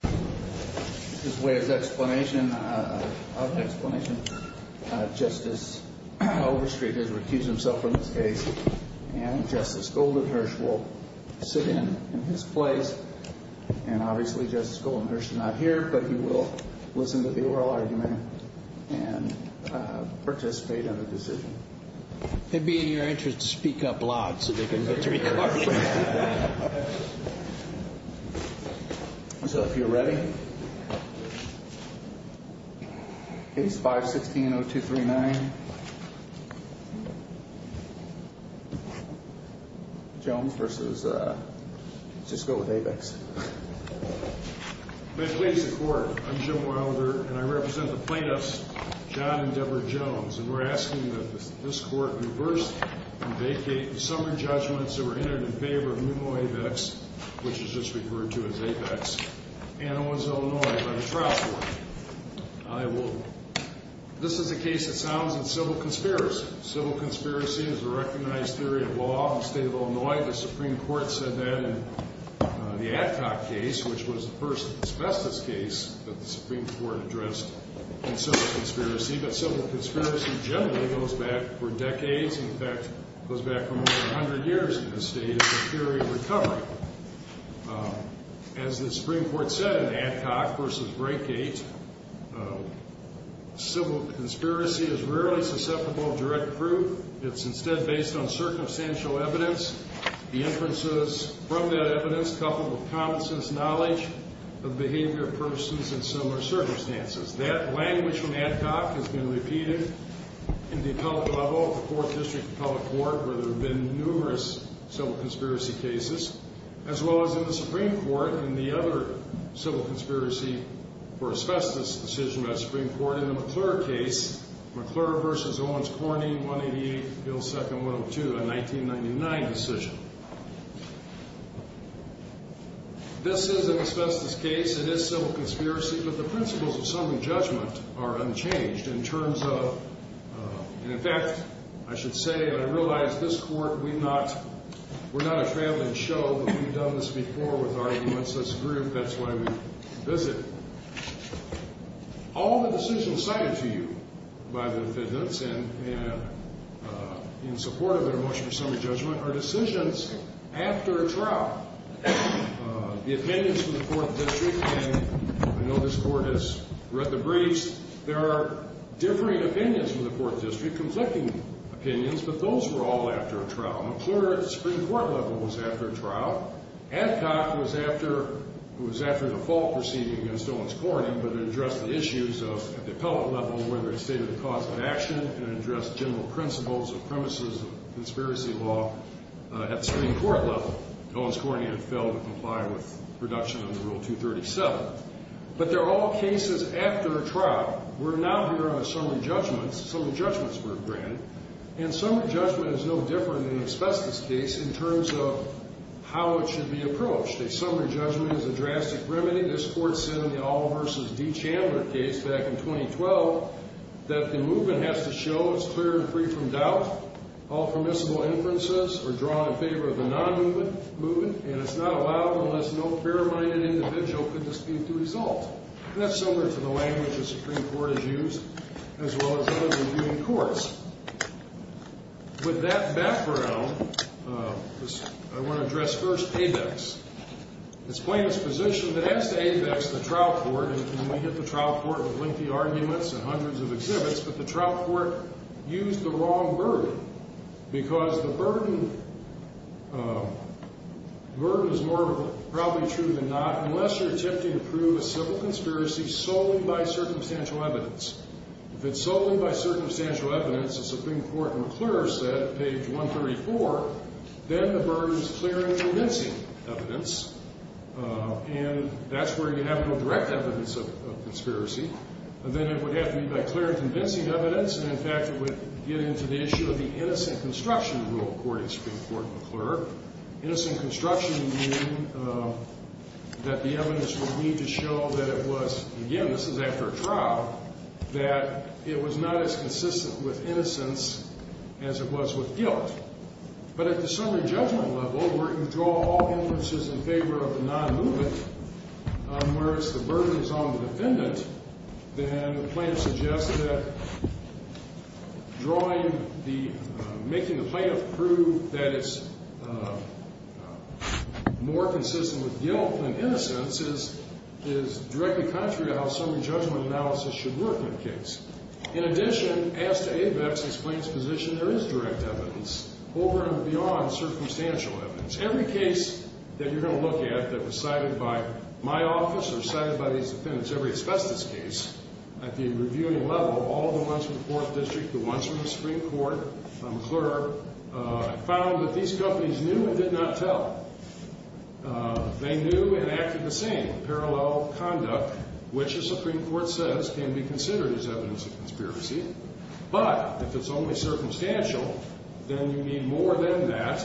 This is Wade's explanation of an explanation. Justice Overstreet has refused himself from this case, and Justice Goldenhirsch will sit in his place. And obviously Justice Goldenhirsch is not here, but he will listen to the oral argument and participate in the decision. It would be in your interest to speak up loud so they can get the recording. So if you're ready, Case 516-0239, Jones v. Sisco with Abex. May it please the Court, I'm Jim Wilder, and I represent the plaintiffs, John and Deborah Jones, and we're asking that this Court reverse and vacate the summary judgments that were entered in favor of Pneumo Abex, which is just referred to as Abex, and Owens, Illinois, by the Trial Court. This is a case that sounds like civil conspiracy. Civil conspiracy is a recognized theory of law in the state of Illinois. The Supreme Court said that in the Adcock case, which was the first asbestos case that the Supreme Court addressed in civil conspiracy, but civil conspiracy generally goes back for decades. In fact, it goes back for more than 100 years in this state. It's a theory of recovery. As the Supreme Court said in Adcock v. Brakegate, civil conspiracy is rarely susceptible of direct proof. It's instead based on circumstantial evidence, the inferences from that evidence coupled with common sense knowledge of the behavior of persons in similar circumstances. That language from Adcock has been repeated in the appellate level of the Fourth District Appellate Court, where there have been numerous civil conspiracy cases, as well as in the Supreme Court and the other civil conspiracy for asbestos decision by the Supreme Court. Let's start in the McClure case, McClure v. Owens Corning, 188, Bill 2nd, 102, a 1999 decision. This is an asbestos case. It is civil conspiracy, but the principles of summary judgment are unchanged in terms of, and in fact, I should say that I realize this Court, we're not a traveling show, but we've done this before with our U.S.S. group. That's why we visit. All the decisions cited to you by the defendants and in support of their motion for summary judgment are decisions after a trial. The opinions from the Fourth District, and I know this Court has read the briefs, there are differing opinions from the Fourth District, conflicting opinions, but those were all after a trial. McClure at the Supreme Court level was after a trial. Adcock was after the full proceeding against Owens Corning, but addressed the issues of the appellate level, whether it stated the cause of action, and addressed general principles of premises of conspiracy law at the Supreme Court level. Owens Corning had failed to comply with reduction under Rule 237. But they're all cases after a trial. We're not here on a summary judgment. Summary judgments were granted. And summary judgment is no different in an asbestos case in terms of how it should be approached. A summary judgment is a drastic remedy. This Court said in the Oliver v. D. Chandler case back in 2012 that the movement has to show it's clear and free from doubt. All permissible inferences are drawn in favor of the non-movement, and it's not allowed unless no fair-minded individual could dispute those inferences. And that's similar to the language the Supreme Court has used, as well as others in viewing courts. With that background, I want to address first ABEX. It's plain exposition that as to ABEX, the trial court, and we hit the trial court with lengthy arguments and hundreds of exhibits, but the trial court used the wrong burden, because the burden is more probably true than not. Unless you're attempting to prove a civil conspiracy solely by circumstantial evidence. If it's solely by circumstantial evidence, as the Supreme Court in McClure said, page 134, then the burden is clear and convincing evidence. And that's where you have to go direct evidence of conspiracy. Then it would have to be by clear and convincing evidence. And, in fact, it would get into the issue of the innocent construction rule, according to Supreme Court McClure. Innocent construction meaning that the evidence would need to show that it was, again, this is after a trial, that it was not as consistent with innocence as it was with guilt. But at the summary judgment level, where you draw all inferences in favor of the non-movement, whereas the burden is on the defendant, then the plaintiff suggests that drawing the, making the plaintiff prove that it's more consistent with guilt than innocence is directly contrary to how summary judgment analysis should work in a case. In addition, as to AVEX, the plaintiff's position, there is direct evidence over and beyond circumstantial evidence. Every case that you're going to look at that was cited by my office or cited by these defendants, every asbestos case, at the reviewing level, all the ones from the Fourth District, the ones from the Supreme Court, McClure, found that these companies knew and did not tell. They knew and acted the same. Parallel conduct, which the Supreme Court says can be considered as evidence of conspiracy, but if it's only circumstantial, then you need more than that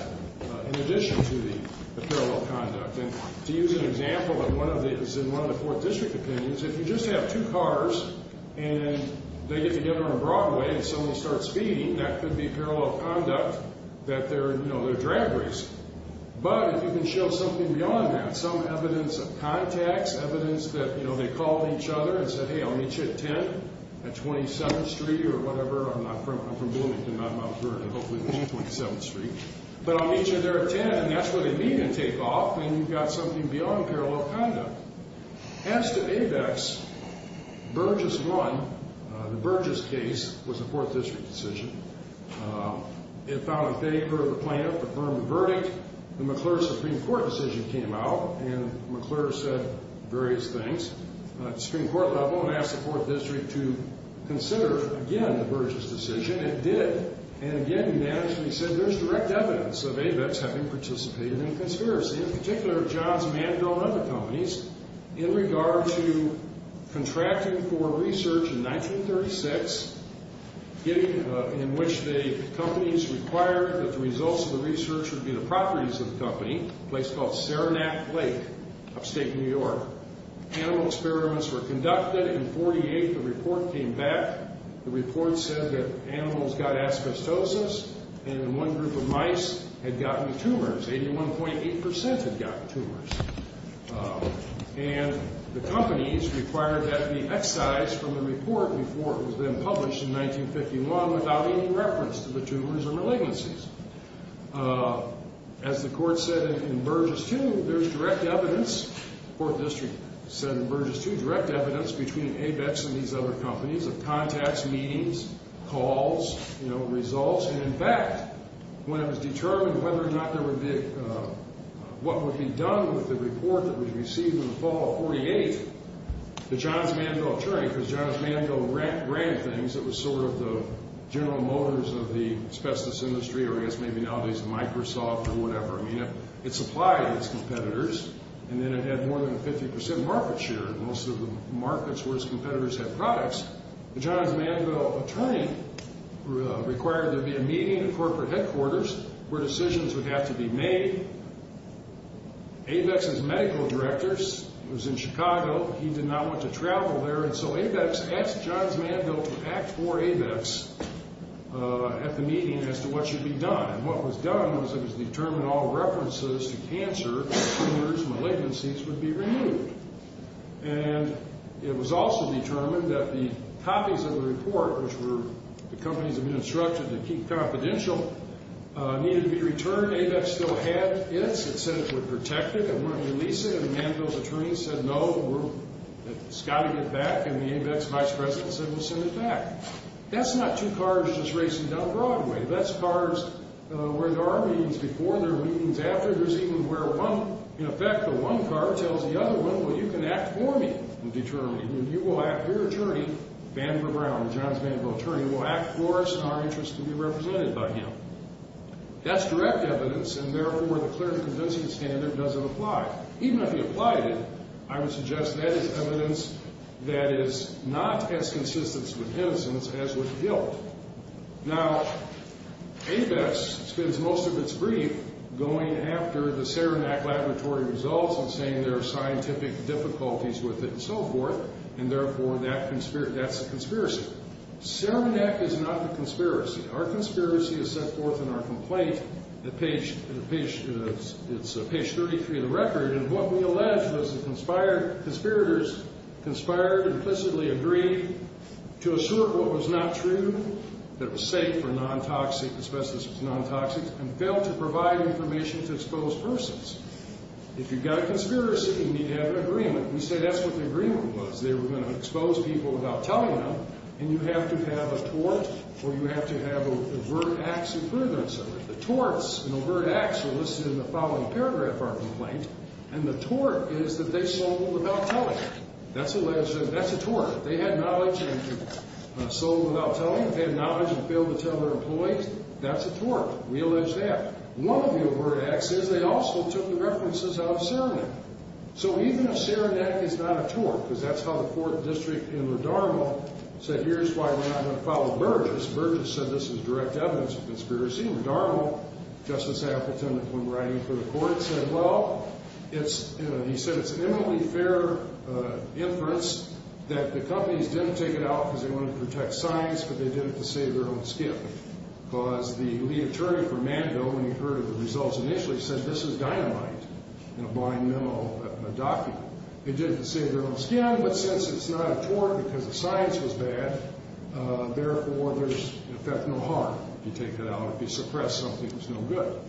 in addition to the parallel conduct. And to use an example in one of the Fourth District opinions, if you just have two cars and they get together on Broadway and someone starts speeding, that could be parallel conduct that they're, you know, they're drag racing. But if you can show something beyond that, some evidence of contacts, evidence that, you know, they called each other and said, hey, I'll meet you at 10 at 27th Street or whatever. I'm from Bloomington, not Mount Vernon. Hopefully it's 27th Street. But I'll meet you there at 10, and that's where they meet and take off, and you've got something beyond parallel conduct. As to ABEX, Burgess 1, the Burgess case, was a Fourth District decision. It found that they heard the plaintiff affirm the verdict. The McClure Supreme Court decision came out, and McClure said various things. At the Supreme Court level, it asked the Fourth District to consider, again, the Burgess decision. It did. And again, he said there's direct evidence of ABEX having participated in a conspiracy, in particular of Johns Mandel and other companies, in regard to contracting for research in 1936, in which the companies required that the results of the research would be the properties of the company, a place called Saranac Lake, upstate New York. Animal experiments were conducted. In 1948, the report came back. The report said that animals got asbestosis, and one group of mice had gotten tumors. Eighty-one point eight percent had gotten tumors. And the companies required that it be excised from the report before it was then published in 1951 without any reference to the tumors or malignancies. As the court said in Burgess 2, there's direct evidence, the Fourth District said in Burgess 2, direct evidence between ABEX and these other companies of contacts, meetings, calls, you know, results. And in fact, when it was determined whether or not there would be, what would be done with the report that was received in the fall of 1948, the Johns Mandel attorney, because Johns Mandel ran things that was sort of the General Motors of the asbestos industry, or I guess maybe nowadays Microsoft or whatever, I mean, it supplied its competitors, and then it had more than a 50 percent market share in most of the markets where its competitors had products. The Johns Mandel attorney required there be a meeting at corporate headquarters where decisions would have to be made. ABEX's medical director was in Chicago. He did not want to travel there, and so ABEX asked Johns Mandel to act for ABEX at the meeting as to what should be done. And what was done was it was determined all references to cancer, tumors, malignancies would be removed. And it was also determined that the copies of the report, which were the companies that had been instructed to keep confidential, needed to be returned. And where ABEX still had its, it said it would protect it. It wouldn't release it. And Mandel's attorney said, no, it's got to get back. And the ABEX vice president said, we'll send it back. That's not two cars just racing down Broadway. That's cars where there are meetings before and there are meetings after. There's even where one, in effect, the one car tells the other one, well, you can act for me. Now, ABEX spends most of its brief going after the Saranac Laboratory results and saying there are scientific difficulties with it. And so, I would suggest that that is evidence that is not as consistent with innocence as with guilt. And so forth. And therefore, that's a conspiracy. Saranac is not the conspiracy. Our conspiracy is set forth in our complaint. It's page 33 of the record. And what we allege was the conspirators conspired and implicitly agreed to assert what was not true, that it was safe for non-toxic, asbestos was non-toxic, and failed to provide information to exposed persons. If you've got a conspiracy, you need to have an agreement. We say that's what the agreement was. They were going to expose people without telling them. And you have to have a tort or you have to have overt acts in prudence of it. The torts and overt acts are listed in the following paragraph of our complaint. And the tort is that they sold without telling them. That's alleged. That's a tort. They had knowledge and sold without telling them. They had knowledge and failed to tell their employees. That's a tort. We allege that. One of the overt acts is they also took the references out of Saranac. So even if Saranac is not a tort, because that's how the court district in Rodermo said here's why we're not going to follow Burgess. Burgess said this is direct evidence of conspiracy. In Rodermo, Justice Appleton, when writing for the court, said, well, it's, you know, he said it's an eminently fair inference that the companies didn't take it out because they wanted to protect science, but they did it to save their own skin. Because the lead attorney for Manville, when he heard of the results initially, said this is dynamite in a blind memo document. They did it to save their own skin, but since it's not a tort because the science was bad, therefore, there's in effect no harm if you take that out. If you suppress something, it's no good.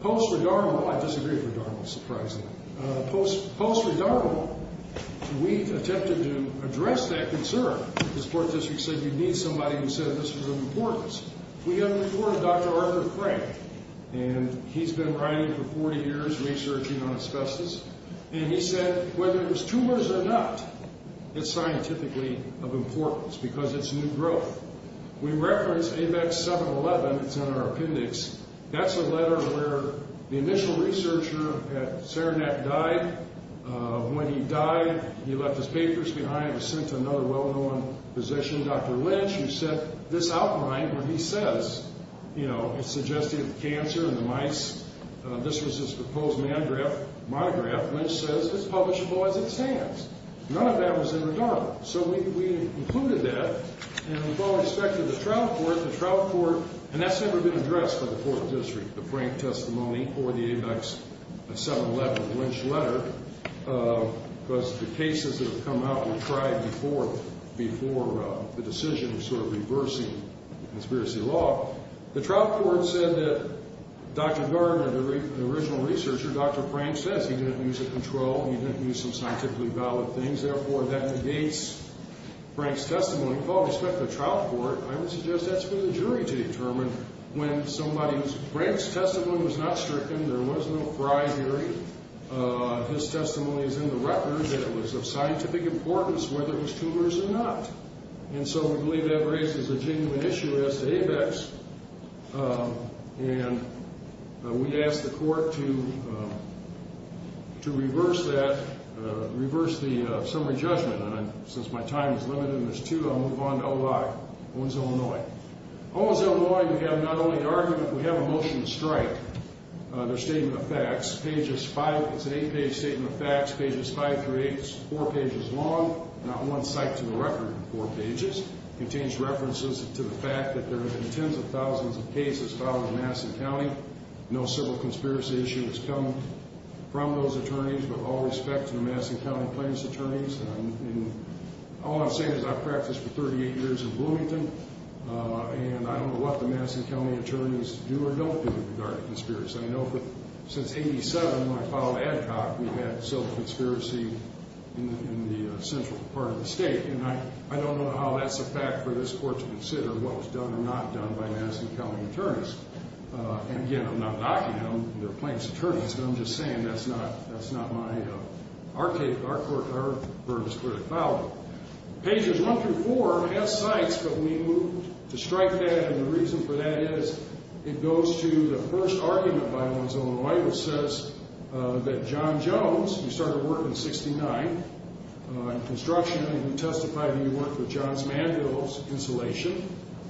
Post-Rodermo, I disagree with Rodermo, surprisingly. Post-Rodermo, we attempted to address that concern. This court district said you need somebody who said this was of importance. We have reported Dr. Arthur Frank, and he's been writing for 40 years researching on asbestos, and he said whether it was tumors or not, it's scientifically of importance because it's new growth. We referenced ABEX 711. It's in our appendix. That's a letter where the initial researcher at Serenet died. When he died, he left his papers behind and was sent to another well-known physician, Dr. Lynch, who sent this outline where he says, you know, it suggested cancer in the mice. This was his proposed monograph. Lynch says it's publishable as it stands. None of that was in regard. So we included that, and with all respect to the trial court, the trial court, and that's never been addressed by the court district, the Frank testimony or the ABEX 711 Lynch letter, because the cases that have come out were tried before the decision of sort of reversing conspiracy law. The trial court said that Dr. Gardner, the original researcher, Dr. Frank says he didn't use a control. He didn't use some scientifically valid things. Therefore, that negates Frank's testimony. With all respect to the trial court, I would suggest that's for the jury to determine. Frank's testimony was not stricken. There was no bribery. His testimony is in the record that it was of scientific importance whether it was tumors or not, and so we believe that raises a genuine issue as to ABEX, and we asked the court to reverse that, reverse the summary judgment, and since my time is limited and there's two, I'll move on to OI. Owen's, Illinois. Owen's, Illinois, we have not only an argument, we have a motion to strike their statement of facts. Pages five, it's an eight-page statement of facts. Pages five through eight is four pages long, not one cite to the record in four pages. It contains references to the fact that there have been tens of thousands of cases filed in Madison County. No civil conspiracy issue has come from those attorneys. With all respect to the Madison County plaintiffs' attorneys, all I'm saying is I've practiced for 38 years in Bloomington, and I don't know what the Madison County attorneys do or don't do with regard to conspiracy. I know since 87, when I filed ADCOC, we've had civil conspiracy in the central part of the state, and I don't know how that's a fact for this court to consider what was done or not done by Madison County attorneys. And, again, I'm not knocking on their plaintiffs' attorneys, but I'm just saying that's not my, our court, our burden is clearly filed. Pages one through four has cites, but we moved to strike that, and the reason for that is it goes to the first argument by Owen's, Illinois, which says that John Jones, who started working in 69, in construction, and who testified that he worked with John's Mandrills Installation,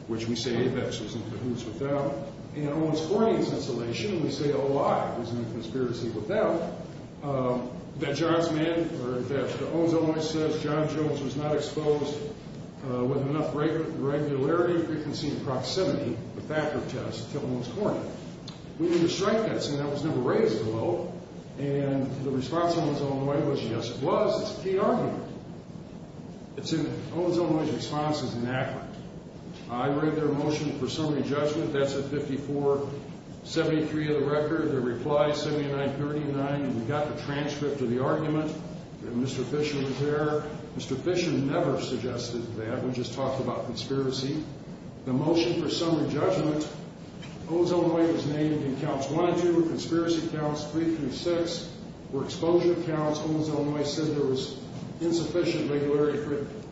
which we say, hey, that's who's into who's without. And Owen's Corning's Installation, we say, oh, I was in a conspiracy with them, that John's Mandrills, or that Owen's, Illinois, says John Jones was not exposed with enough regularity, frequency, and proximity, the fact of the test, to Owen's Corning. We moved to strike that, saying that was never raised at all, and the response to Owen's, Illinois, was yes, it was. It's a key argument. It's in Owen's, Illinois' response is inaccurate. I read their motion for summary judgment. That's at 5473 of the record. The reply is 7939. We got the transcript of the argument that Mr. Fisher was there. Mr. Fisher never suggested that. We just talked about conspiracy. The motion for summary judgment, Owen's, Illinois, was named in counts one and two, conspiracy counts three through six, were exposure counts. Owen's, Illinois, said there was insufficient regularity,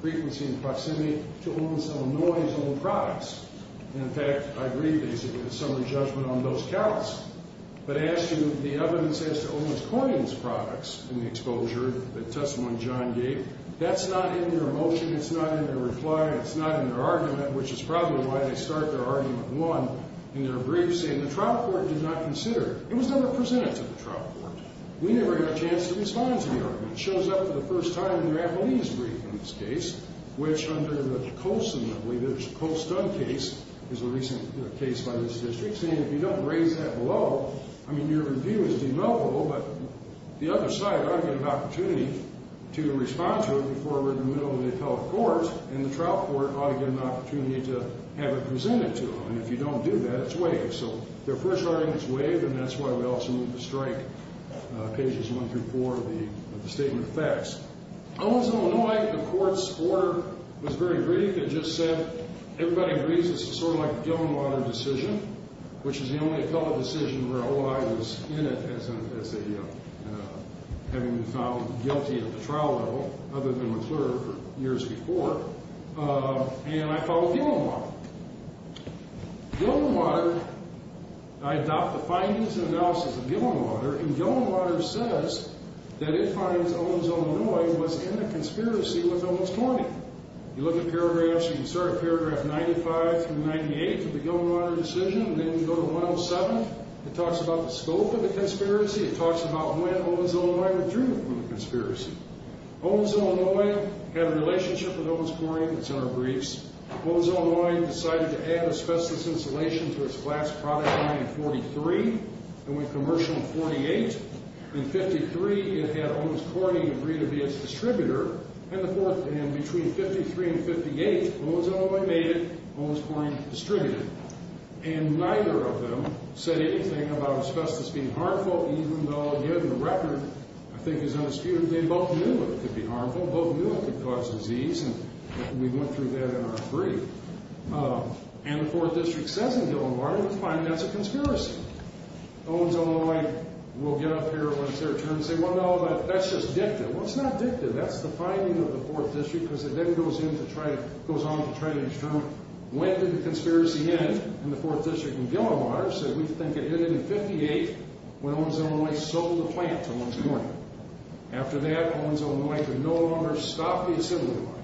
frequency, and proximity to Owen's, Illinois' own products. And, in fact, I agree, basically, the summary judgment on those counts. But as to the evidence as to Owen's Corning's products in the exposure that Testimony John gave, that's not in their motion, it's not in their reply, it's not in their argument, which is probably why they start their argument one in their brief, saying the trial court did not consider it. It was never presented to the trial court. We never had a chance to respond to the argument. It shows up for the first time in the rappellee's brief, in this case, which under the Coase, I believe it was the Coase-Dunn case, is a recent case by this district, saying if you don't raise that below, I mean, your review is demilkable, but the other side ought to get an opportunity to respond to it before we're in the middle of the appellate court, and the trial court ought to get an opportunity to have it presented to them. And if you don't do that, it's waived. So their first argument is waived, and that's why we also move to strike pages one through four of the Statement of Facts. Owens, Illinois, the court's order was very brief. It just said everybody agrees this is sort of like the Gillenwater decision, which is the only appellate decision where OI was in it as having been found guilty at the trial level, other than McClure, for years before. And I follow Gillenwater. Gillenwater, I adopt the findings and analysis of Gillenwater, and Gillenwater says that it finds Owens, Illinois was in a conspiracy with Owens Corning. You look at paragraphs, you can start at paragraph 95 through 98 of the Gillenwater decision, and then you go to 107. It talks about the scope of the conspiracy. It talks about when Owens, Illinois withdrew from the conspiracy. Owens, Illinois had a relationship with Owens Corning. It's in our briefs. Owens, Illinois decided to add asbestos insulation to its flax product line in 43 and went commercial in 48. In 53, it had Owens Corning agree to be its distributor, and between 53 and 58, Owens, Illinois made it Owens Corning's distributor. And neither of them said anything about asbestos being harmful, even though, given the record, I think is undisputed, they both knew it could be harmful, both knew it could cause disease, and we went through that in our brief. And the 4th District says in Gillenwater, we find that's a conspiracy. Owens, Illinois will get up here once they're termed and say, well, no, that's just dicta. Well, it's not dicta. That's the finding of the 4th District, because it then goes on to try to determine when did the conspiracy end in the 4th District and Gillenwater said we think it ended in 58 when Owens, Illinois sold the plant to Owens Corning. After that, Owens, Illinois could no longer stop the assembly line.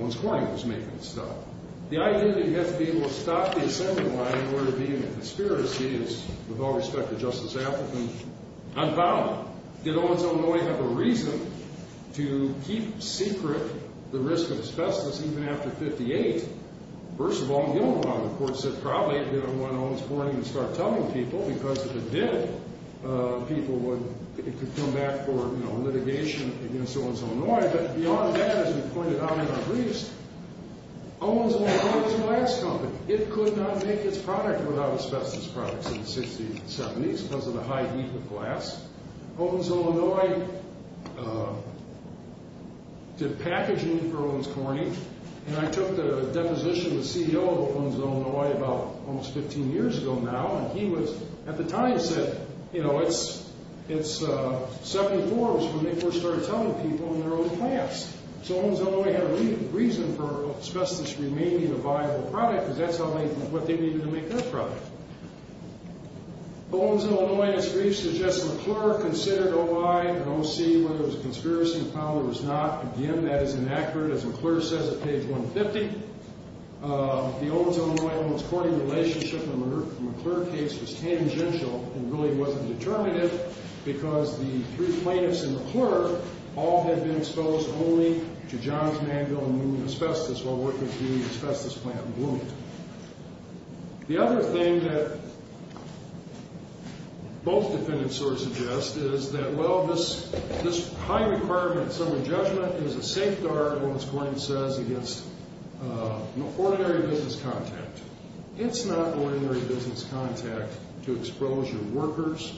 Owens Corning was making it stop. The idea that he had to be able to stop the assembly line in order to be in a conspiracy is, with all respect to Justice Appleton, unfounded. Did Owens, Illinois have a reason to keep secret the risk of asbestos even after 58? First of all, in Gillenwater, the court said probably it didn't want Owens Corning to start telling people because if it did, people would, it could come back for litigation against Owens, Illinois. But beyond that, as we pointed out in our briefs, Owens, Illinois was a glass company. It could not make its product without asbestos products in the 60s and 70s because of the high heat of glass. Owens, Illinois did packaging for Owens Corning. And I took the deposition of the CEO of Owens, Illinois about almost 15 years ago now, and he was, at the time, said, you know, it's 74 was when they first started telling people in their own plants. So Owens, Illinois had a reason for asbestos remaining a viable product because that's what they needed to make their product. Owens, Illinois, in its briefs, suggests McClure considered OI and OC whether it was a conspiracy and found it was not. Again, that is inaccurate. As McClure says at page 150, the Owens, Illinois-Owens-Corning relationship in the McClure case was tangential and really wasn't determinative because the three plaintiffs in McClure all had been exposed only to Johns Manville and Newman asbestos while working for the asbestos plant in Bloomington. The other thing that both defendants sort of suggest is that, well, this high requirement summary judgment is a safeguard, Owens-Corning says, against ordinary business contact. It's not ordinary business contact to expose your workers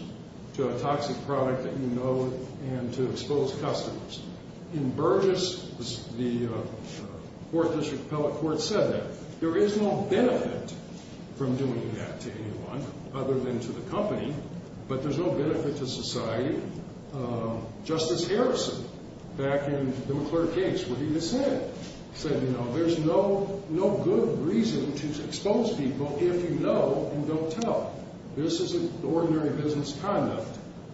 to a toxic product that you know and to expose customers. In Burgess, the Fourth District Appellate Court said that. There is no benefit from doing that to anyone other than to the company, but there's no benefit to society. Justice Harrison, back in the McClure case where he was sent, said, you know, there's no good reason to expose people if you know and don't tell. This isn't ordinary business conduct.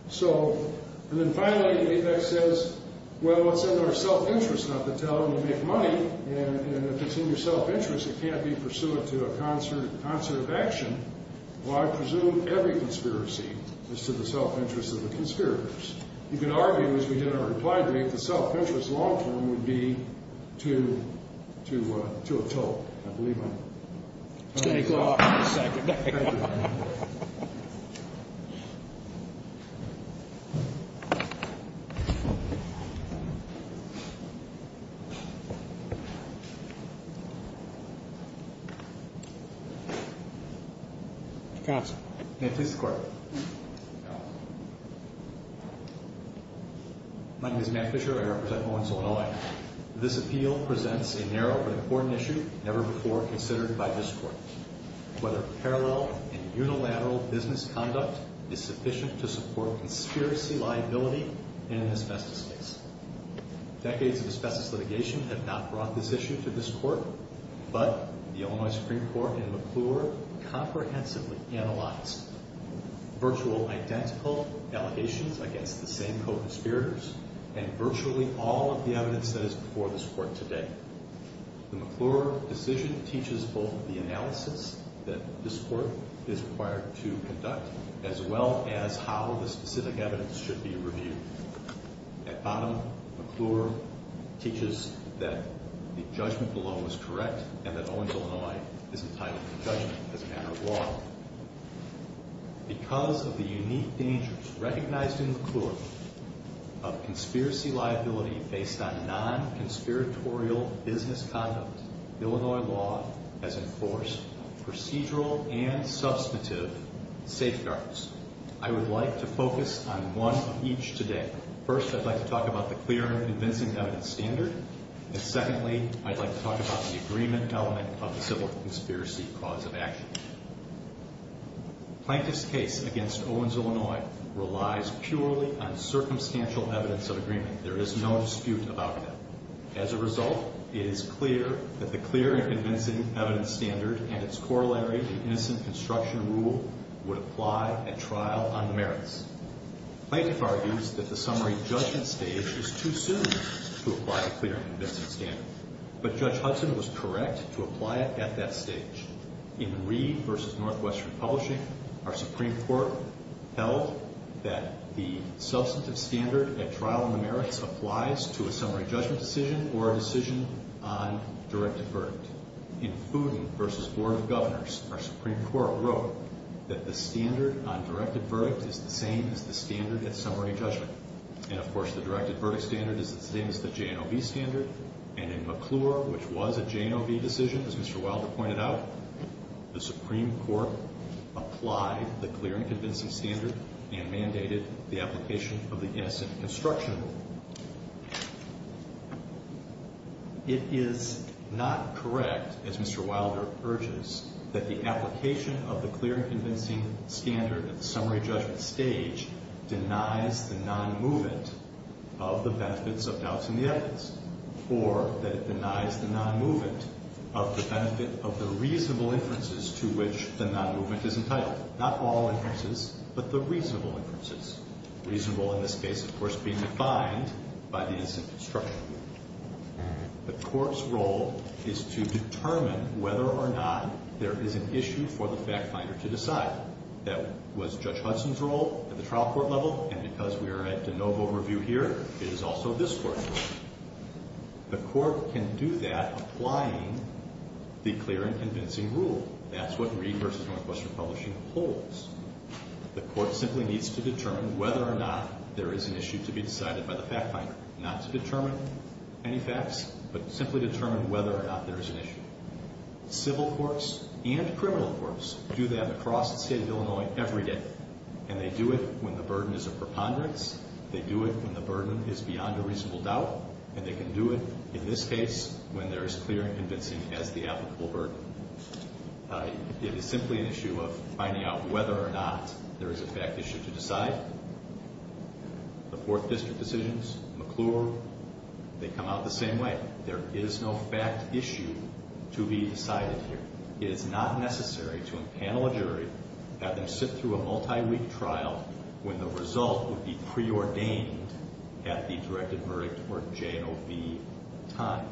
So, and then finally, Apex says, well, it's in our self-interest not to tell and to make money, and if it's in your self-interest, it can't be pursuant to a concert of action. Well, I presume every conspiracy is to the self-interest of the conspirators. You can argue, as we did in our reply brief, the self-interest long-term would be to a toll. I believe I'm… Thank you, Your Honor. Counsel. May it please the Court. My name is Matt Fisher. I represent Owens, Illinois. This appeal presents a narrow but important issue never before considered by this Court, whether parallel and unilateral business conduct is sufficient to support conspiracy liability in an asbestos case. Decades of asbestos litigation have not brought this issue to this Court, but the Illinois Supreme Court in McClure comprehensively analyzed virtual identical allegations against the same co-conspirators and virtually all of the evidence that is before this Court today. The McClure decision teaches both the analysis that this Court is required to conduct as well as how the specific evidence should be reviewed. At bottom, McClure teaches that the judgment below is correct and that Owens, Illinois is entitled to judgment as a matter of law. Because of the unique dangers recognized in McClure of conspiracy liability based on non-conspiratorial business conduct, Illinois law has enforced procedural and substantive safeguards. I would like to focus on one of each today. First, I'd like to talk about the clear and convincing evidence standard, and secondly, I'd like to talk about the agreement element of the civil conspiracy cause of action. Plaintiff's case against Owens, Illinois relies purely on circumstantial evidence of agreement. There is no dispute about that. As a result, it is clear that the clear and convincing evidence standard and its corollary to innocent construction rule would apply at trial on the merits. Plaintiff argues that the summary judgment stage is too soon to apply a clear and convincing standard, but Judge Hudson was correct to apply it at that stage. In Reed v. Northwestern Publishing, our Supreme Court held that the substantive standard at trial on the merits applies to a summary judgment decision or a decision on directed verdict. In Fooden v. Board of Governors, our Supreme Court wrote that the standard on directed verdict is the same as the standard at summary judgment. And, of course, the directed verdict standard is the same as the JNOV standard. And in McClure, which was a JNOV decision, as Mr. Wilder pointed out, the Supreme Court applied the clear and convincing standard and mandated the application of the innocent construction rule. It is not correct, as Mr. Wilder urges, that the application of the clear and convincing standard at the summary judgment stage denies the non-movement of the benefits of doubts in the evidence. Or that it denies the non-movement of the benefit of the reasonable inferences to which the non-movement is entitled. Not all inferences, but the reasonable inferences. Reasonable, in this case, of course, being defined by the innocent construction rule. The court's role is to determine whether or not there is an issue for the fact finder to decide. That was Judge Hudson's role at the trial court level, and because we are at JNOV overview here, it is also this court's role. The court can do that applying the clear and convincing rule. That's what Reed v. Northwestern Publishing holds. The court simply needs to determine whether or not there is an issue to be decided by the fact finder. Not to determine any facts, but simply determine whether or not there is an issue. Civil courts and criminal courts do that across the state of Illinois every day. And they do it when the burden is a preponderance. They do it when the burden is beyond a reasonable doubt. And they can do it, in this case, when there is clear and convincing as the applicable burden. It is simply an issue of finding out whether or not there is a fact issue to decide. The Fourth District decisions, McClure, they come out the same way. There is no fact issue to be decided here. It is not necessary to impanel a jury, have them sit through a multi-week trial, when the result would be preordained at the directed verdict or JNOV time.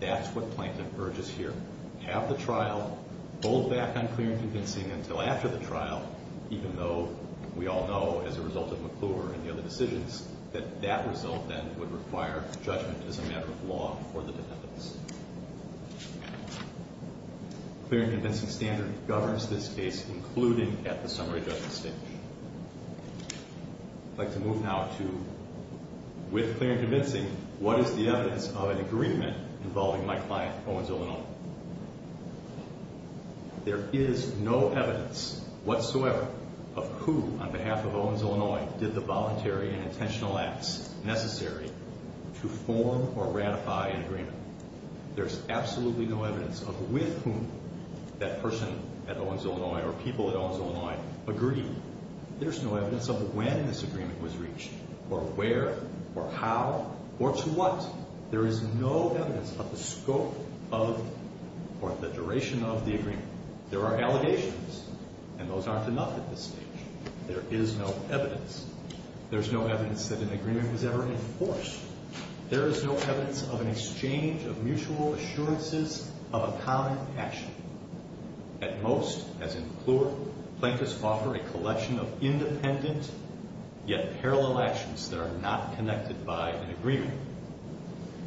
That's what Plankton urges here. Have the trial, hold back on clear and convincing until after the trial, even though we all know, as a result of McClure and the other decisions, that that result then would require judgment as a matter of law for the defendants. Clear and convincing standard governs this case, including at the summary judgment stage. I'd like to move now to, with clear and convincing, what is the evidence of an agreement involving my client, Owens, Illinois? There is no evidence whatsoever of who, on behalf of Owens, Illinois, did the voluntary and intentional acts necessary to form or ratify an agreement. There is absolutely no evidence of with whom that person at Owens, Illinois, or people at Owens, Illinois, agreed. There's no evidence of when this agreement was reached or where or how or to what. There is no evidence of the scope of or the duration of the agreement. There are allegations, and those aren't enough at this stage. There is no evidence. There's no evidence that an agreement was ever enforced. There is no evidence of an exchange of mutual assurances of a common action. At most, as in Clure, plaintiffs offer a collection of independent yet parallel actions that are not connected by an agreement.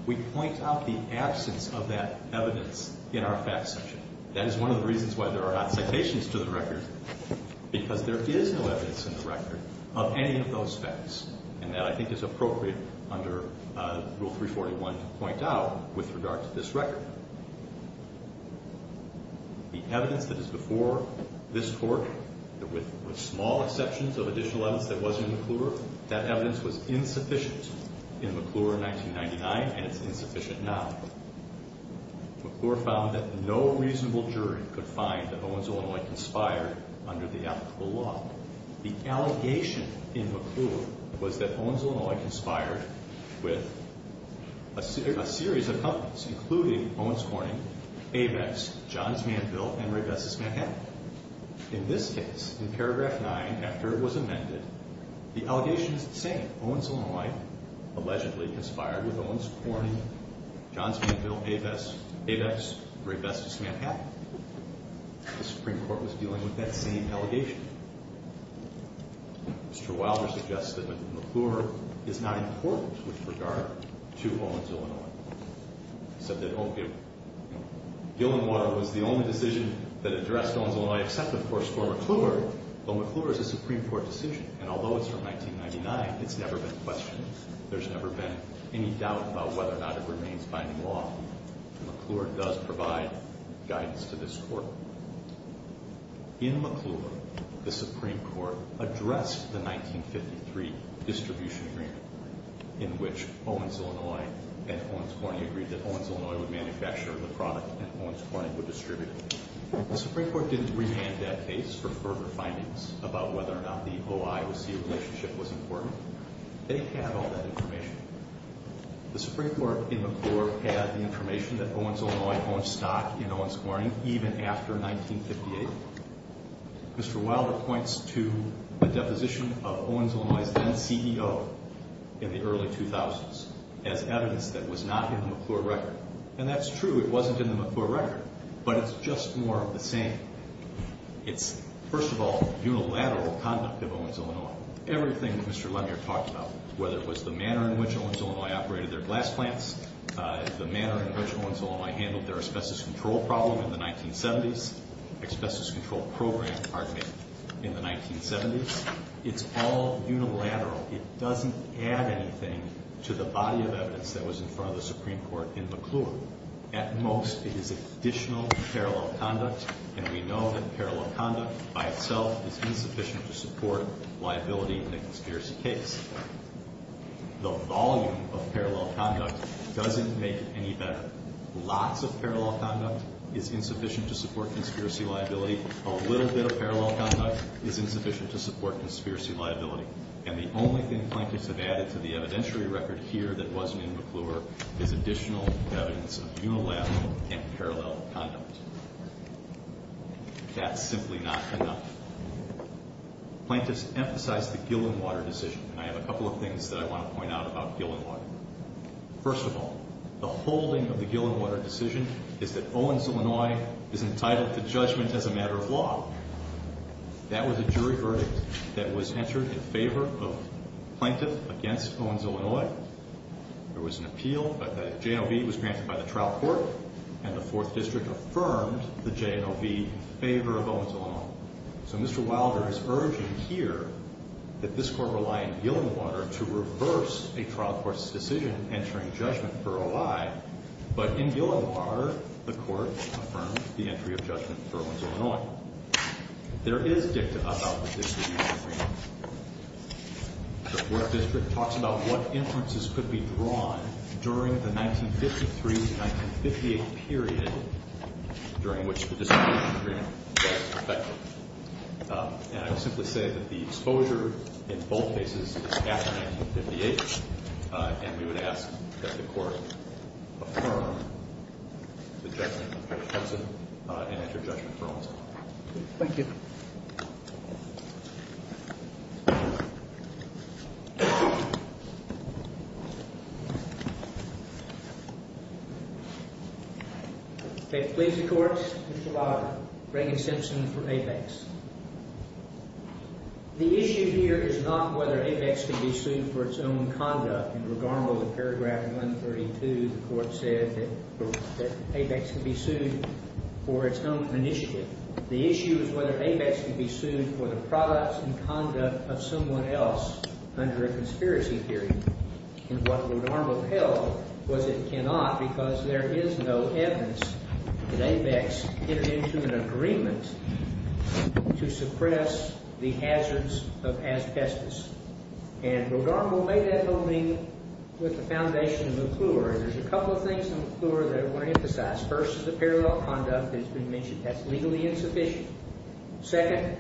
We point out the absence of that evidence in our facts section. That is one of the reasons why there are not citations to the record, because there is no evidence in the record of any of those facts, and that I think is appropriate under Rule 341 to point out with regard to this record. The evidence that is before this Court, with small exceptions of additional evidence that was in McClure, that evidence was insufficient in McClure in 1999, and it's insufficient now. McClure found that no reasonable jury could find that Owens, Illinois conspired under the applicable law. The allegation in McClure was that Owens, Illinois conspired with a series of companies, including Owens Corning, ABEX, Johns Manville, and Raybestos, Manhattan. In this case, in paragraph 9, after it was amended, the allegation is the same. Owens, Illinois allegedly conspired with Owens Corning, Johns Manville, ABEX, Raybestos, Manhattan. The Supreme Court was dealing with that same allegation. Mr. Wilder suggests that McClure is not important with regard to Owens, Illinois. He said that Gil and Water was the only decision that addressed Owens, Illinois, except, of course, for McClure. But McClure is a Supreme Court decision, and although it's from 1999, it's never been questioned. There's never been any doubt about whether or not it remains binding law. McClure does provide guidance to this Court. In McClure, the Supreme Court addressed the 1953 distribution agreement, in which Owens, Illinois and Owens Corning agreed that Owens, Illinois would manufacture the product and Owens Corning would distribute it. The Supreme Court didn't remand that case for further findings about whether or not the O-I-C relationship was important. They had all that information. The Supreme Court in McClure had the information that Owens, Illinois owned stock in Owens Corning even after 1958. Mr. Wilder points to a deposition of Owens, Illinois' then CEO in the early 2000s as evidence that was not in the McClure record. And that's true, it wasn't in the McClure record, but it's just more of the same. It's, first of all, unilateral conduct of Owens, Illinois. Everything that Mr. Lemier talked about, whether it was the manner in which Owens, Illinois operated their glass plants, the manner in which Owens, Illinois handled their asbestos control problem in the 1970s, asbestos control program, pardon me, in the 1970s, it's all unilateral. It doesn't add anything to the body of evidence that was in front of the Supreme Court in McClure. At most, it is additional parallel conduct, and we know that parallel conduct by itself is insufficient to support liability in a conspiracy case. The volume of parallel conduct doesn't make it any better. Lots of parallel conduct is insufficient to support conspiracy liability. A little bit of parallel conduct is insufficient to support conspiracy liability. And the only thing plaintiffs have added to the evidentiary record here that wasn't in McClure is additional evidence of unilateral and parallel conduct. That's simply not enough. Plaintiffs emphasized the Gillenwater decision, and I have a couple of things that I want to point out about Gillenwater. First of all, the holding of the Gillenwater decision is that Owens, Illinois is entitled to judgment as a matter of law. That was a jury verdict that was entered in favor of plaintiff against Owens, Illinois. There was an appeal. The J&OB was granted by the trial court, and the Fourth District affirmed the J&OB in favor of Owens, Illinois. So Mr. Wilder is urging here that this Court rely on Gillenwater to reverse a trial court's decision entering judgment for a lie. But in Gillenwater, the Court affirmed the entry of judgment for Owens, Illinois. There is dicta about the decision. The Fourth District talks about what inferences could be drawn during the 1953-1958 period during which the dissemination agreement was effective. And I will simply say that the exposure in both cases is after 1958, and we would ask that the Court affirm the judgment in favor of Hudson and enter judgment for Owens, Illinois. Thank you. Okay, please, the courts. Mr. Wilder. Reagan-Simpson for Apex. The issue here is not whether Apex can be sued for its own conduct. In Rodarmo, the paragraph 132, the Court said that Apex can be sued for its own initiative. The issue is whether Apex can be sued for the products and conduct of someone else under a conspiracy theory. And what Rodarmo held was it cannot because there is no evidence that Apex entered into an agreement to suppress the hazards of asbestos. And Rodarmo made that opening with the foundation of McClure. And there's a couple of things in McClure that I want to emphasize. First is the parallel conduct that's been mentioned. That's legally insufficient. Second,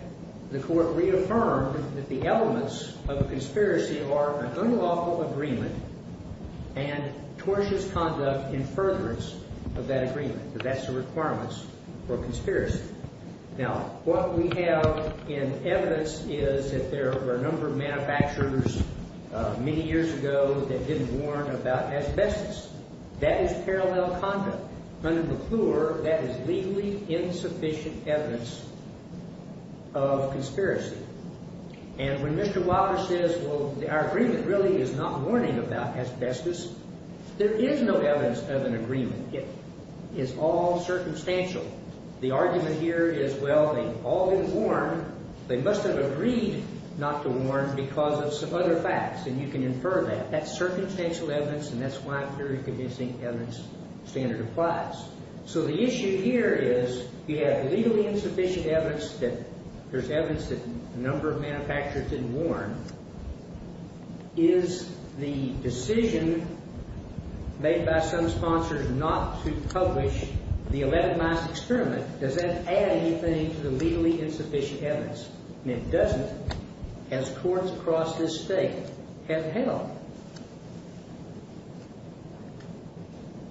the Court reaffirmed that the elements of a conspiracy are an unlawful agreement and tortious conduct in furtherance of that agreement. That's the requirements for a conspiracy. Now, what we have in evidence is that there were a number of manufacturers many years ago that didn't warn about asbestos. That is parallel conduct. Under McClure, that is legally insufficient evidence of conspiracy. And when Mr. Wilder says, well, our agreement really is not warning about asbestos, there is no evidence of an agreement. It is all circumstantial. The argument here is, well, they all didn't warn. They must have agreed not to warn because of some other facts. And you can infer that. That's circumstantial evidence, and that's why a theory-convincing evidence standard applies. So the issue here is you have legally insufficient evidence that there's evidence that a number of manufacturers didn't warn. Is the decision made by some sponsors not to publish the 11 miles experiment, does that add anything to the legally insufficient evidence? And it doesn't, as courts across this State have held.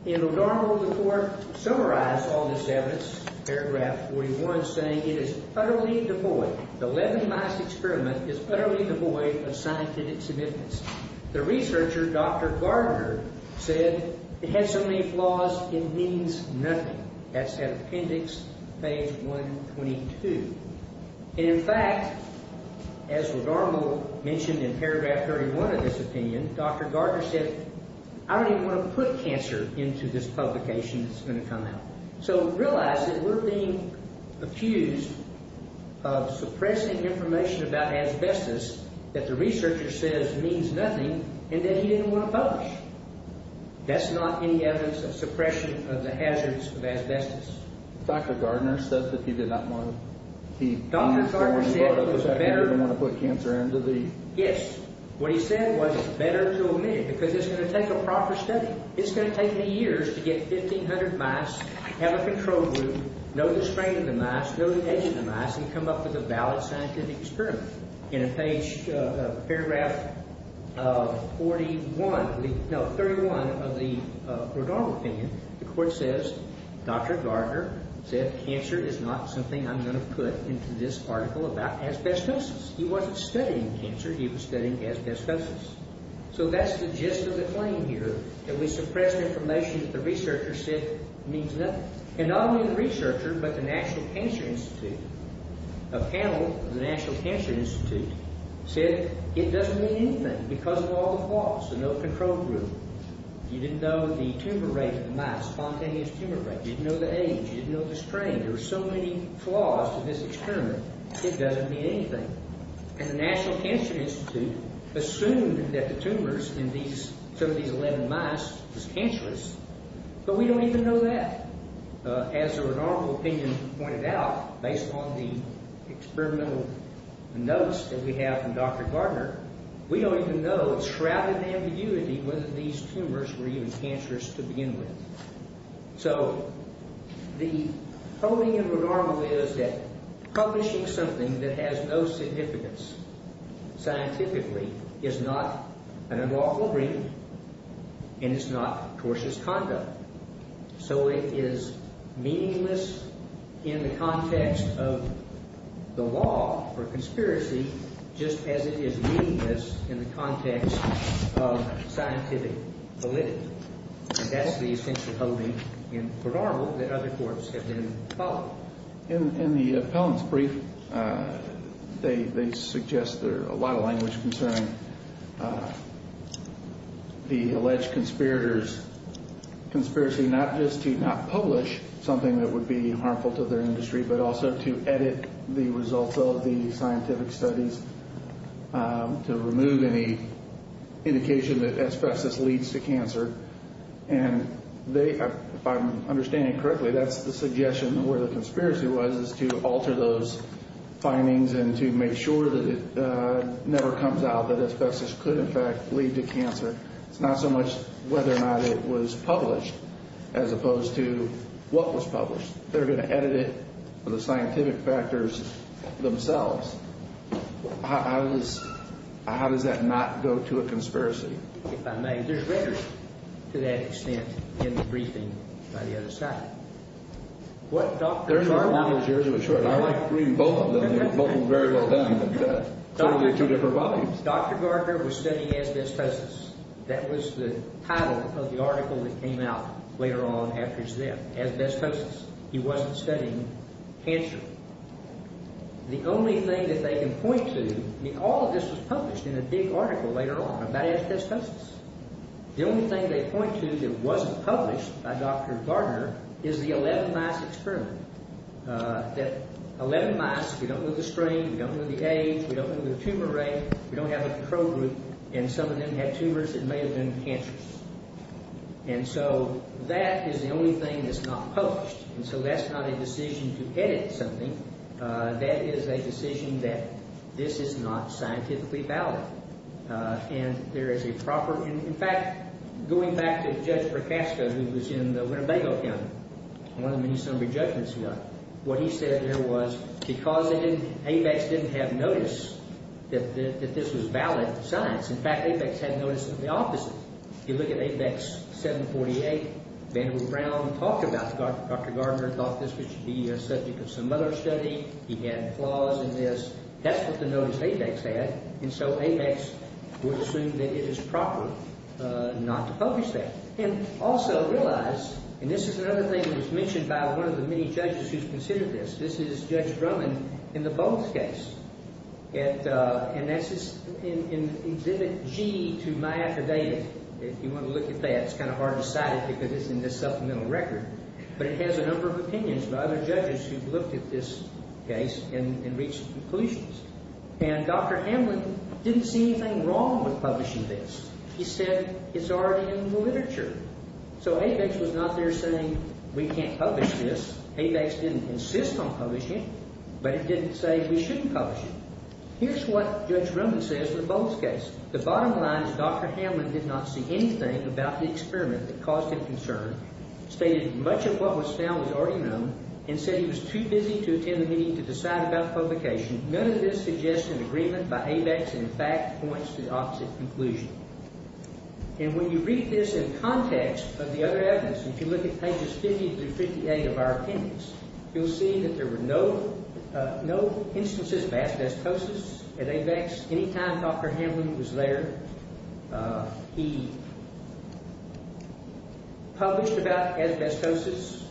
In O'Donnell, the court summarized all this evidence, paragraph 41, saying it is utterly devoid. The 11 miles experiment is utterly devoid of scientific significance. The researcher, Dr. Gardner, said it had so many flaws it means nothing. That's at appendix page 122. And, in fact, as O'Donnell mentioned in paragraph 31 of this opinion, Dr. Gardner said, I don't even want to put cancer into this publication that's going to come out. So realize that we're being accused of suppressing information about asbestos that the researcher says means nothing and that he didn't want to publish. That's not any evidence of suppression of the hazards of asbestos. Dr. Gardner said that he did not want to keep – Dr. Gardner said it was better – He didn't want to put cancer into the – Yes. What he said was it's better to omit it because it's going to take a proper study. It's going to take me years to get 1,500 mice, have a control group, know the strength of the mice, know the age of the mice, and come up with a valid scientific experiment. In page – paragraph 41 – no, 31 of the O'Donnell opinion, the court says Dr. Gardner said cancer is not something I'm going to put into this article about asbestosis. He wasn't studying cancer. He was studying asbestosis. So that's the gist of the claim here, that we suppressed information that the researcher said means nothing. And not only the researcher but the National Cancer Institute, a panel of the National Cancer Institute, said it doesn't mean anything because of all the flaws, the no control group. You didn't know the tumor rate of the mice, spontaneous tumor rate. You didn't know the age. You didn't know the strength. There were so many flaws to this experiment. It doesn't mean anything. And the National Cancer Institute assumed that the tumors in these – some of these 11 mice was cancerous. But we don't even know that. As the Renardville opinion pointed out, based on the experimental notes that we have from Dr. Gardner, we don't even know, shrouded in ambiguity, whether these tumors were even cancerous to begin with. So the holding in Renardville is that publishing something that has no significance scientifically is not an unlawful reading and it's not cautious conduct. So it is meaningless in the context of the law or conspiracy just as it is meaningless in the context of scientific validity. And that's the essential holding in Renardville that other courts have been following. In the appellant's brief, they suggest there are a lot of language concerning the alleged conspirators' conspiracy not just to not publish something that would be harmful to their industry but also to edit the results of the scientific studies to remove any indication that asbestos leads to cancer. And they, if I'm understanding correctly, that's the suggestion where the conspiracy was is to alter those findings and to make sure that it never comes out that asbestos could, in fact, lead to cancer. It's not so much whether or not it was published as opposed to what was published. They're going to edit it for the scientific factors themselves. How does that not go to a conspiracy? If I may, there's rhetoric to that extent in the briefing by the other side. What Dr. Garker... There's a couple of those years it was short. I like reading both of them. Both of them are very well done. Totally two different volumes. Dr. Garker was studying asbestosis. That was the title of the article that came out later on after his death, asbestosis. He wasn't studying cancer. The only thing that they can point to... I mean, all of this was published in a big article later on about asbestosis. The only thing they point to that wasn't published by Dr. Garker is the 11 mice experiment, that 11 mice... We don't know the strain. We don't know the age. We don't know the tumor rate. We don't have a control group. And some of them had tumors that may have been cancerous. And so that is the only thing that's not published. And so that's not a decision to edit something. That is a decision that this is not scientifically valid. And there is a proper... In fact, going back to Judge Procasco, who was in the Winnebago County, one of the many summary judgments he got, what he said there was because ABEX didn't have notice that this was valid science. In fact, ABEX had notice of the opposite. If you look at ABEX 748, Vanderbilt Brown talked about it. Dr. Gardner thought this should be a subject of some other study. He had flaws in this. That's what the notice ABEX had. And so ABEX would assume that it is proper not to publish that. And also realize, and this is another thing that was mentioned by one of the many judges who's considered this, this is Judge Drummond in the Bones case. And that's in exhibit G to my affidavit. If you want to look at that, it's kind of hard to cite it because it's in this supplemental record. But it has a number of opinions by other judges who've looked at this case and reached conclusions. And Dr. Hamlin didn't see anything wrong with publishing this. He said it's already in the literature. So ABEX was not there saying we can't publish this. ABEX didn't insist on publishing it. But it didn't say we shouldn't publish it. Here's what Judge Drummond says in the Bones case. The bottom line is Dr. Hamlin did not see anything about the experiment that caused him concern, stated much of what was found was already known, and said he was too busy to attend the meeting to decide about publication. None of this suggests an agreement by ABEX and, in fact, points to the opposite conclusion. And when you read this in context of the other evidence, if you look at pages 50 through 58 of our appendix, you'll see that there were no instances of asbestosis at ABEX. Any time Dr. Hamlin was there, he published about asbestosis,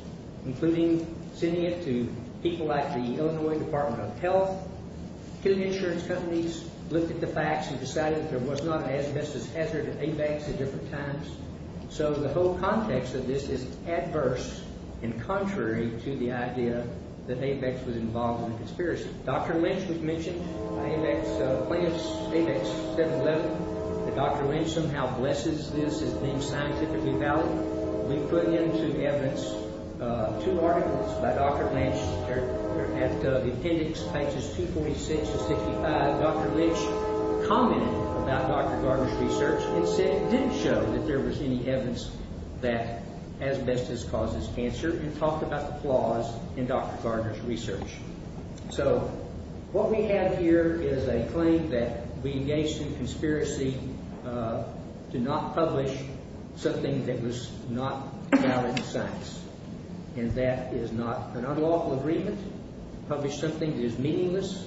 including sending it to people like the Illinois Department of Health, killing insurance companies, looked at the facts, and decided that there was not an asbestos hazard at ABEX at different times. So the whole context of this is adverse and contrary to the idea that ABEX was involved in the conspiracy. Dr. Lynch was mentioned by ABEX, ABEX 711, that Dr. Lynch somehow blesses this as being scientifically valid. We put into evidence two articles by Dr. Lynch. At the appendix, pages 246 to 65, Dr. Lynch commented about Dr. Gardner's research and said it didn't show that there was any evidence that asbestos causes cancer and talked about the flaws in Dr. Gardner's research. So what we have here is a claim that we engaged in conspiracy to not publish something that was not valid in science, and that is not an unlawful agreement to publish something that is meaningless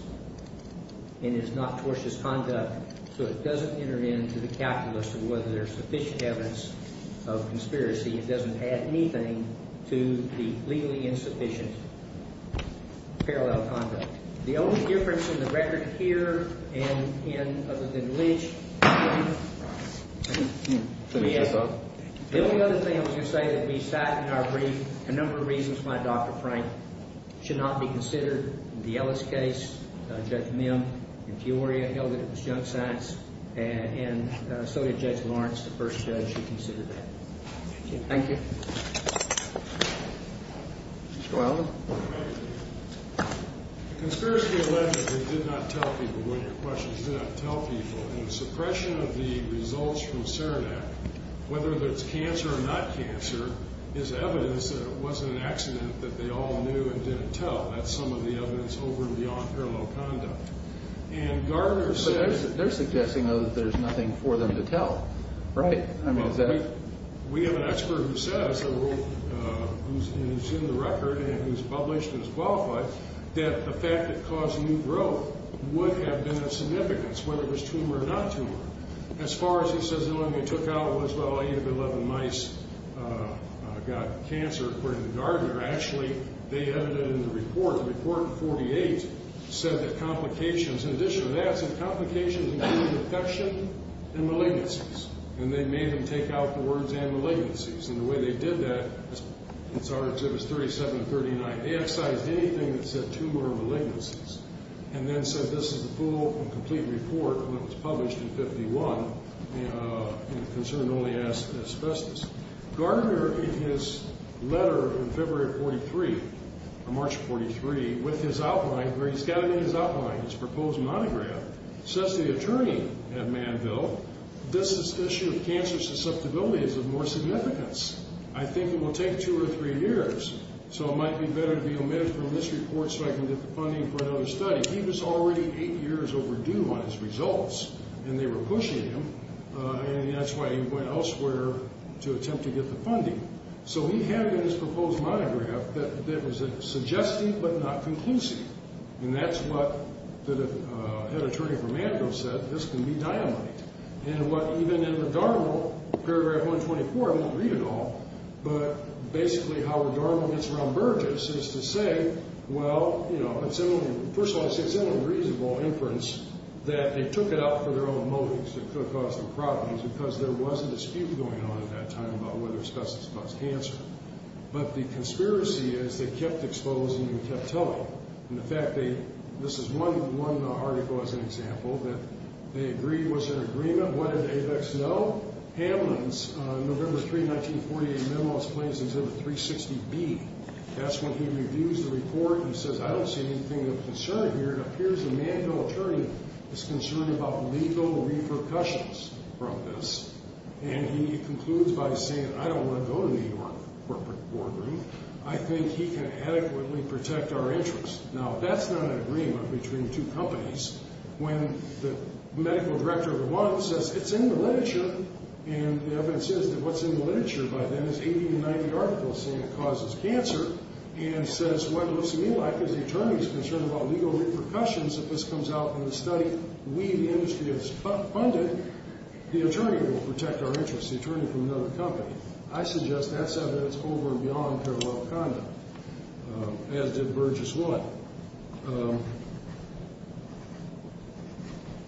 and is not tortious conduct. So it doesn't enter into the calculus of whether there's sufficient evidence of conspiracy. It doesn't add anything to the legally insufficient parallel conduct. The only difference in the record here and other than Lynch, the only other thing I was going to say is that we cited in our brief a number of reasons why Dr. Frank should not be considered in the Ellis case. Judge Mim in Peoria held that it was junk science, and so did Judge Lawrence, the first judge who considered that. Thank you. Mr. O'Allen. Conspiracy allegedly did not tell people. One of your questions did not tell people. Suppression of the results from Cerenac, whether there's cancer or not cancer, is evidence that it wasn't an accident, that they all knew and didn't tell. That's some of the evidence over and beyond parallel conduct. And Gardner said... But they're suggesting, though, that there's nothing for them to tell, right? We have an expert who says, who's in the record and who's published and who's qualified, that the fact that it caused new growth would have been of significance, whether it was tumor or not tumor. As far as he says the only thing it took out was, well, 8 of 11 mice got cancer, according to Gardner. Actually, they added it in the report. The report in 48 said that complications... In addition to that, some complications included infection and malignancies. And they made them take out the words and malignancies. And the way they did that, it was 37 to 39. They excised anything that said tumor or malignancies and then said this is the full and complete report when it was published in 51, and the concern only asked asbestos. Gardner, in his letter in February of 43, or March of 43, with his outline, where he's got it in his outline, his proposed monograph, says to the attorney at Manville, this issue of cancer susceptibility is of more significance. I think it will take two or three years, so it might be better to be omitted from this report so I can get the funding for another study. He was already eight years overdue on his results, and they were pushing him, and that's why he went elsewhere to attempt to get the funding. So he had in his proposed monograph that was suggestive but not conclusive. And that's what the head attorney for Manville said. This can be dynamite. And what even in the Darwin, paragraph 124, it didn't read at all, but basically how the Darwin gets around Burgess is to say, well, you know, first of all, it's an unreasonable inference that they took it up for their own motives. It could have caused some problems because there was a dispute going on at that time about whether asbestos caused cancer. But the conspiracy is they kept exposing and kept telling. And, in fact, this is one article as an example that they agreed was an agreement. What did Avex know? Hamlin's November 3, 1948 memo is placed into the 360B. That's when he reviews the report and says, I don't see anything of concern here. It appears the Manville attorney is concerned about lethal repercussions from this. And he concludes by saying, I don't want to go to New York corporate boardroom. I think he can adequately protect our interests. Now, that's not an agreement between two companies. When the medical director of the one says, it's in the literature, and the evidence is that what's in the literature by then is 80 to 90 articles saying it causes cancer and says what looks to me like is the attorney is concerned about lethal repercussions if this comes out in the study. When we, the industry, is funded, the attorney will protect our interests, the attorney from another company. I suggest that's evidence over and beyond parallel conduct, as did Burgess Wood.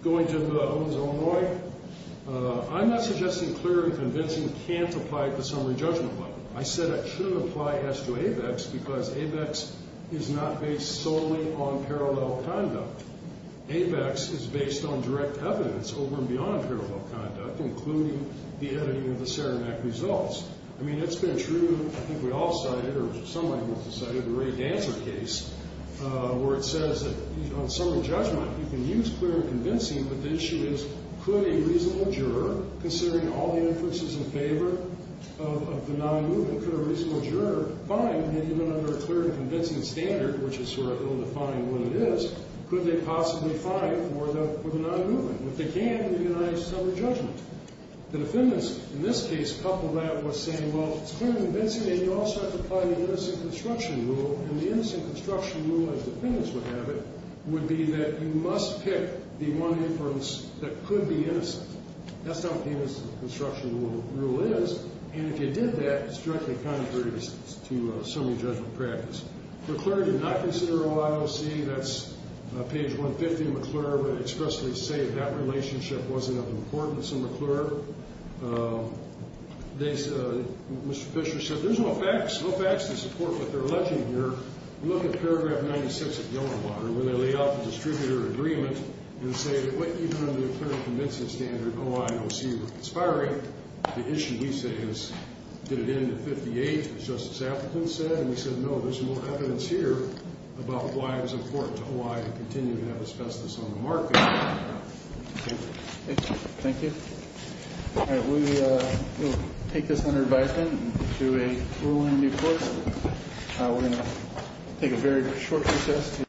Going to the Owens of Illinois, I'm not suggesting clear and convincing can't apply at the summary judgment level. I said it shouldn't apply as to Avex because Avex is not based solely on parallel conduct. Avex is based on direct evidence over and beyond parallel conduct, including the editing of the Saramac results. I mean, it's been true, I think we all cited, or somebody must have cited the Ray Dancer case, where it says that on summary judgment you can use clear and convincing, but the issue is could a reasonable juror, considering all the inferences in favor of the non-movement, could a reasonable juror find that even under a clear and convincing standard, which is sort of ill-defined what it is, could they possibly find for the non-movement? If they can, it would be a nice summary judgment. The defendants, in this case, coupled that with saying, well, if it's clear and convincing, then you also have to apply the innocent construction rule, and the innocent construction rule, as defendants would have it, would be that you must pick the one inference that could be innocent. That's not what the innocent construction rule is, and if you did that, it's directly contrary to summary judgment practice. McClure did not consider OIOC. That's page 150 in McClure, but expressly say that that relationship wasn't of importance in McClure. Mr. Fisher said there's no facts to support what they're alleging here. Look at paragraph 96 of Yellowwater, where they lay out the distributor agreement and say that even under a clear and convincing standard, OIOC was conspiring. The issue, he says, did it end at 58, as Justice Appleton said, and he said, no, there's more evidence here about why it was important to Hawaii to continue to have asbestos on the market. Thank you. All right, we will take this under advisement and do a rule-in-deployment. We're going to take a very short recess.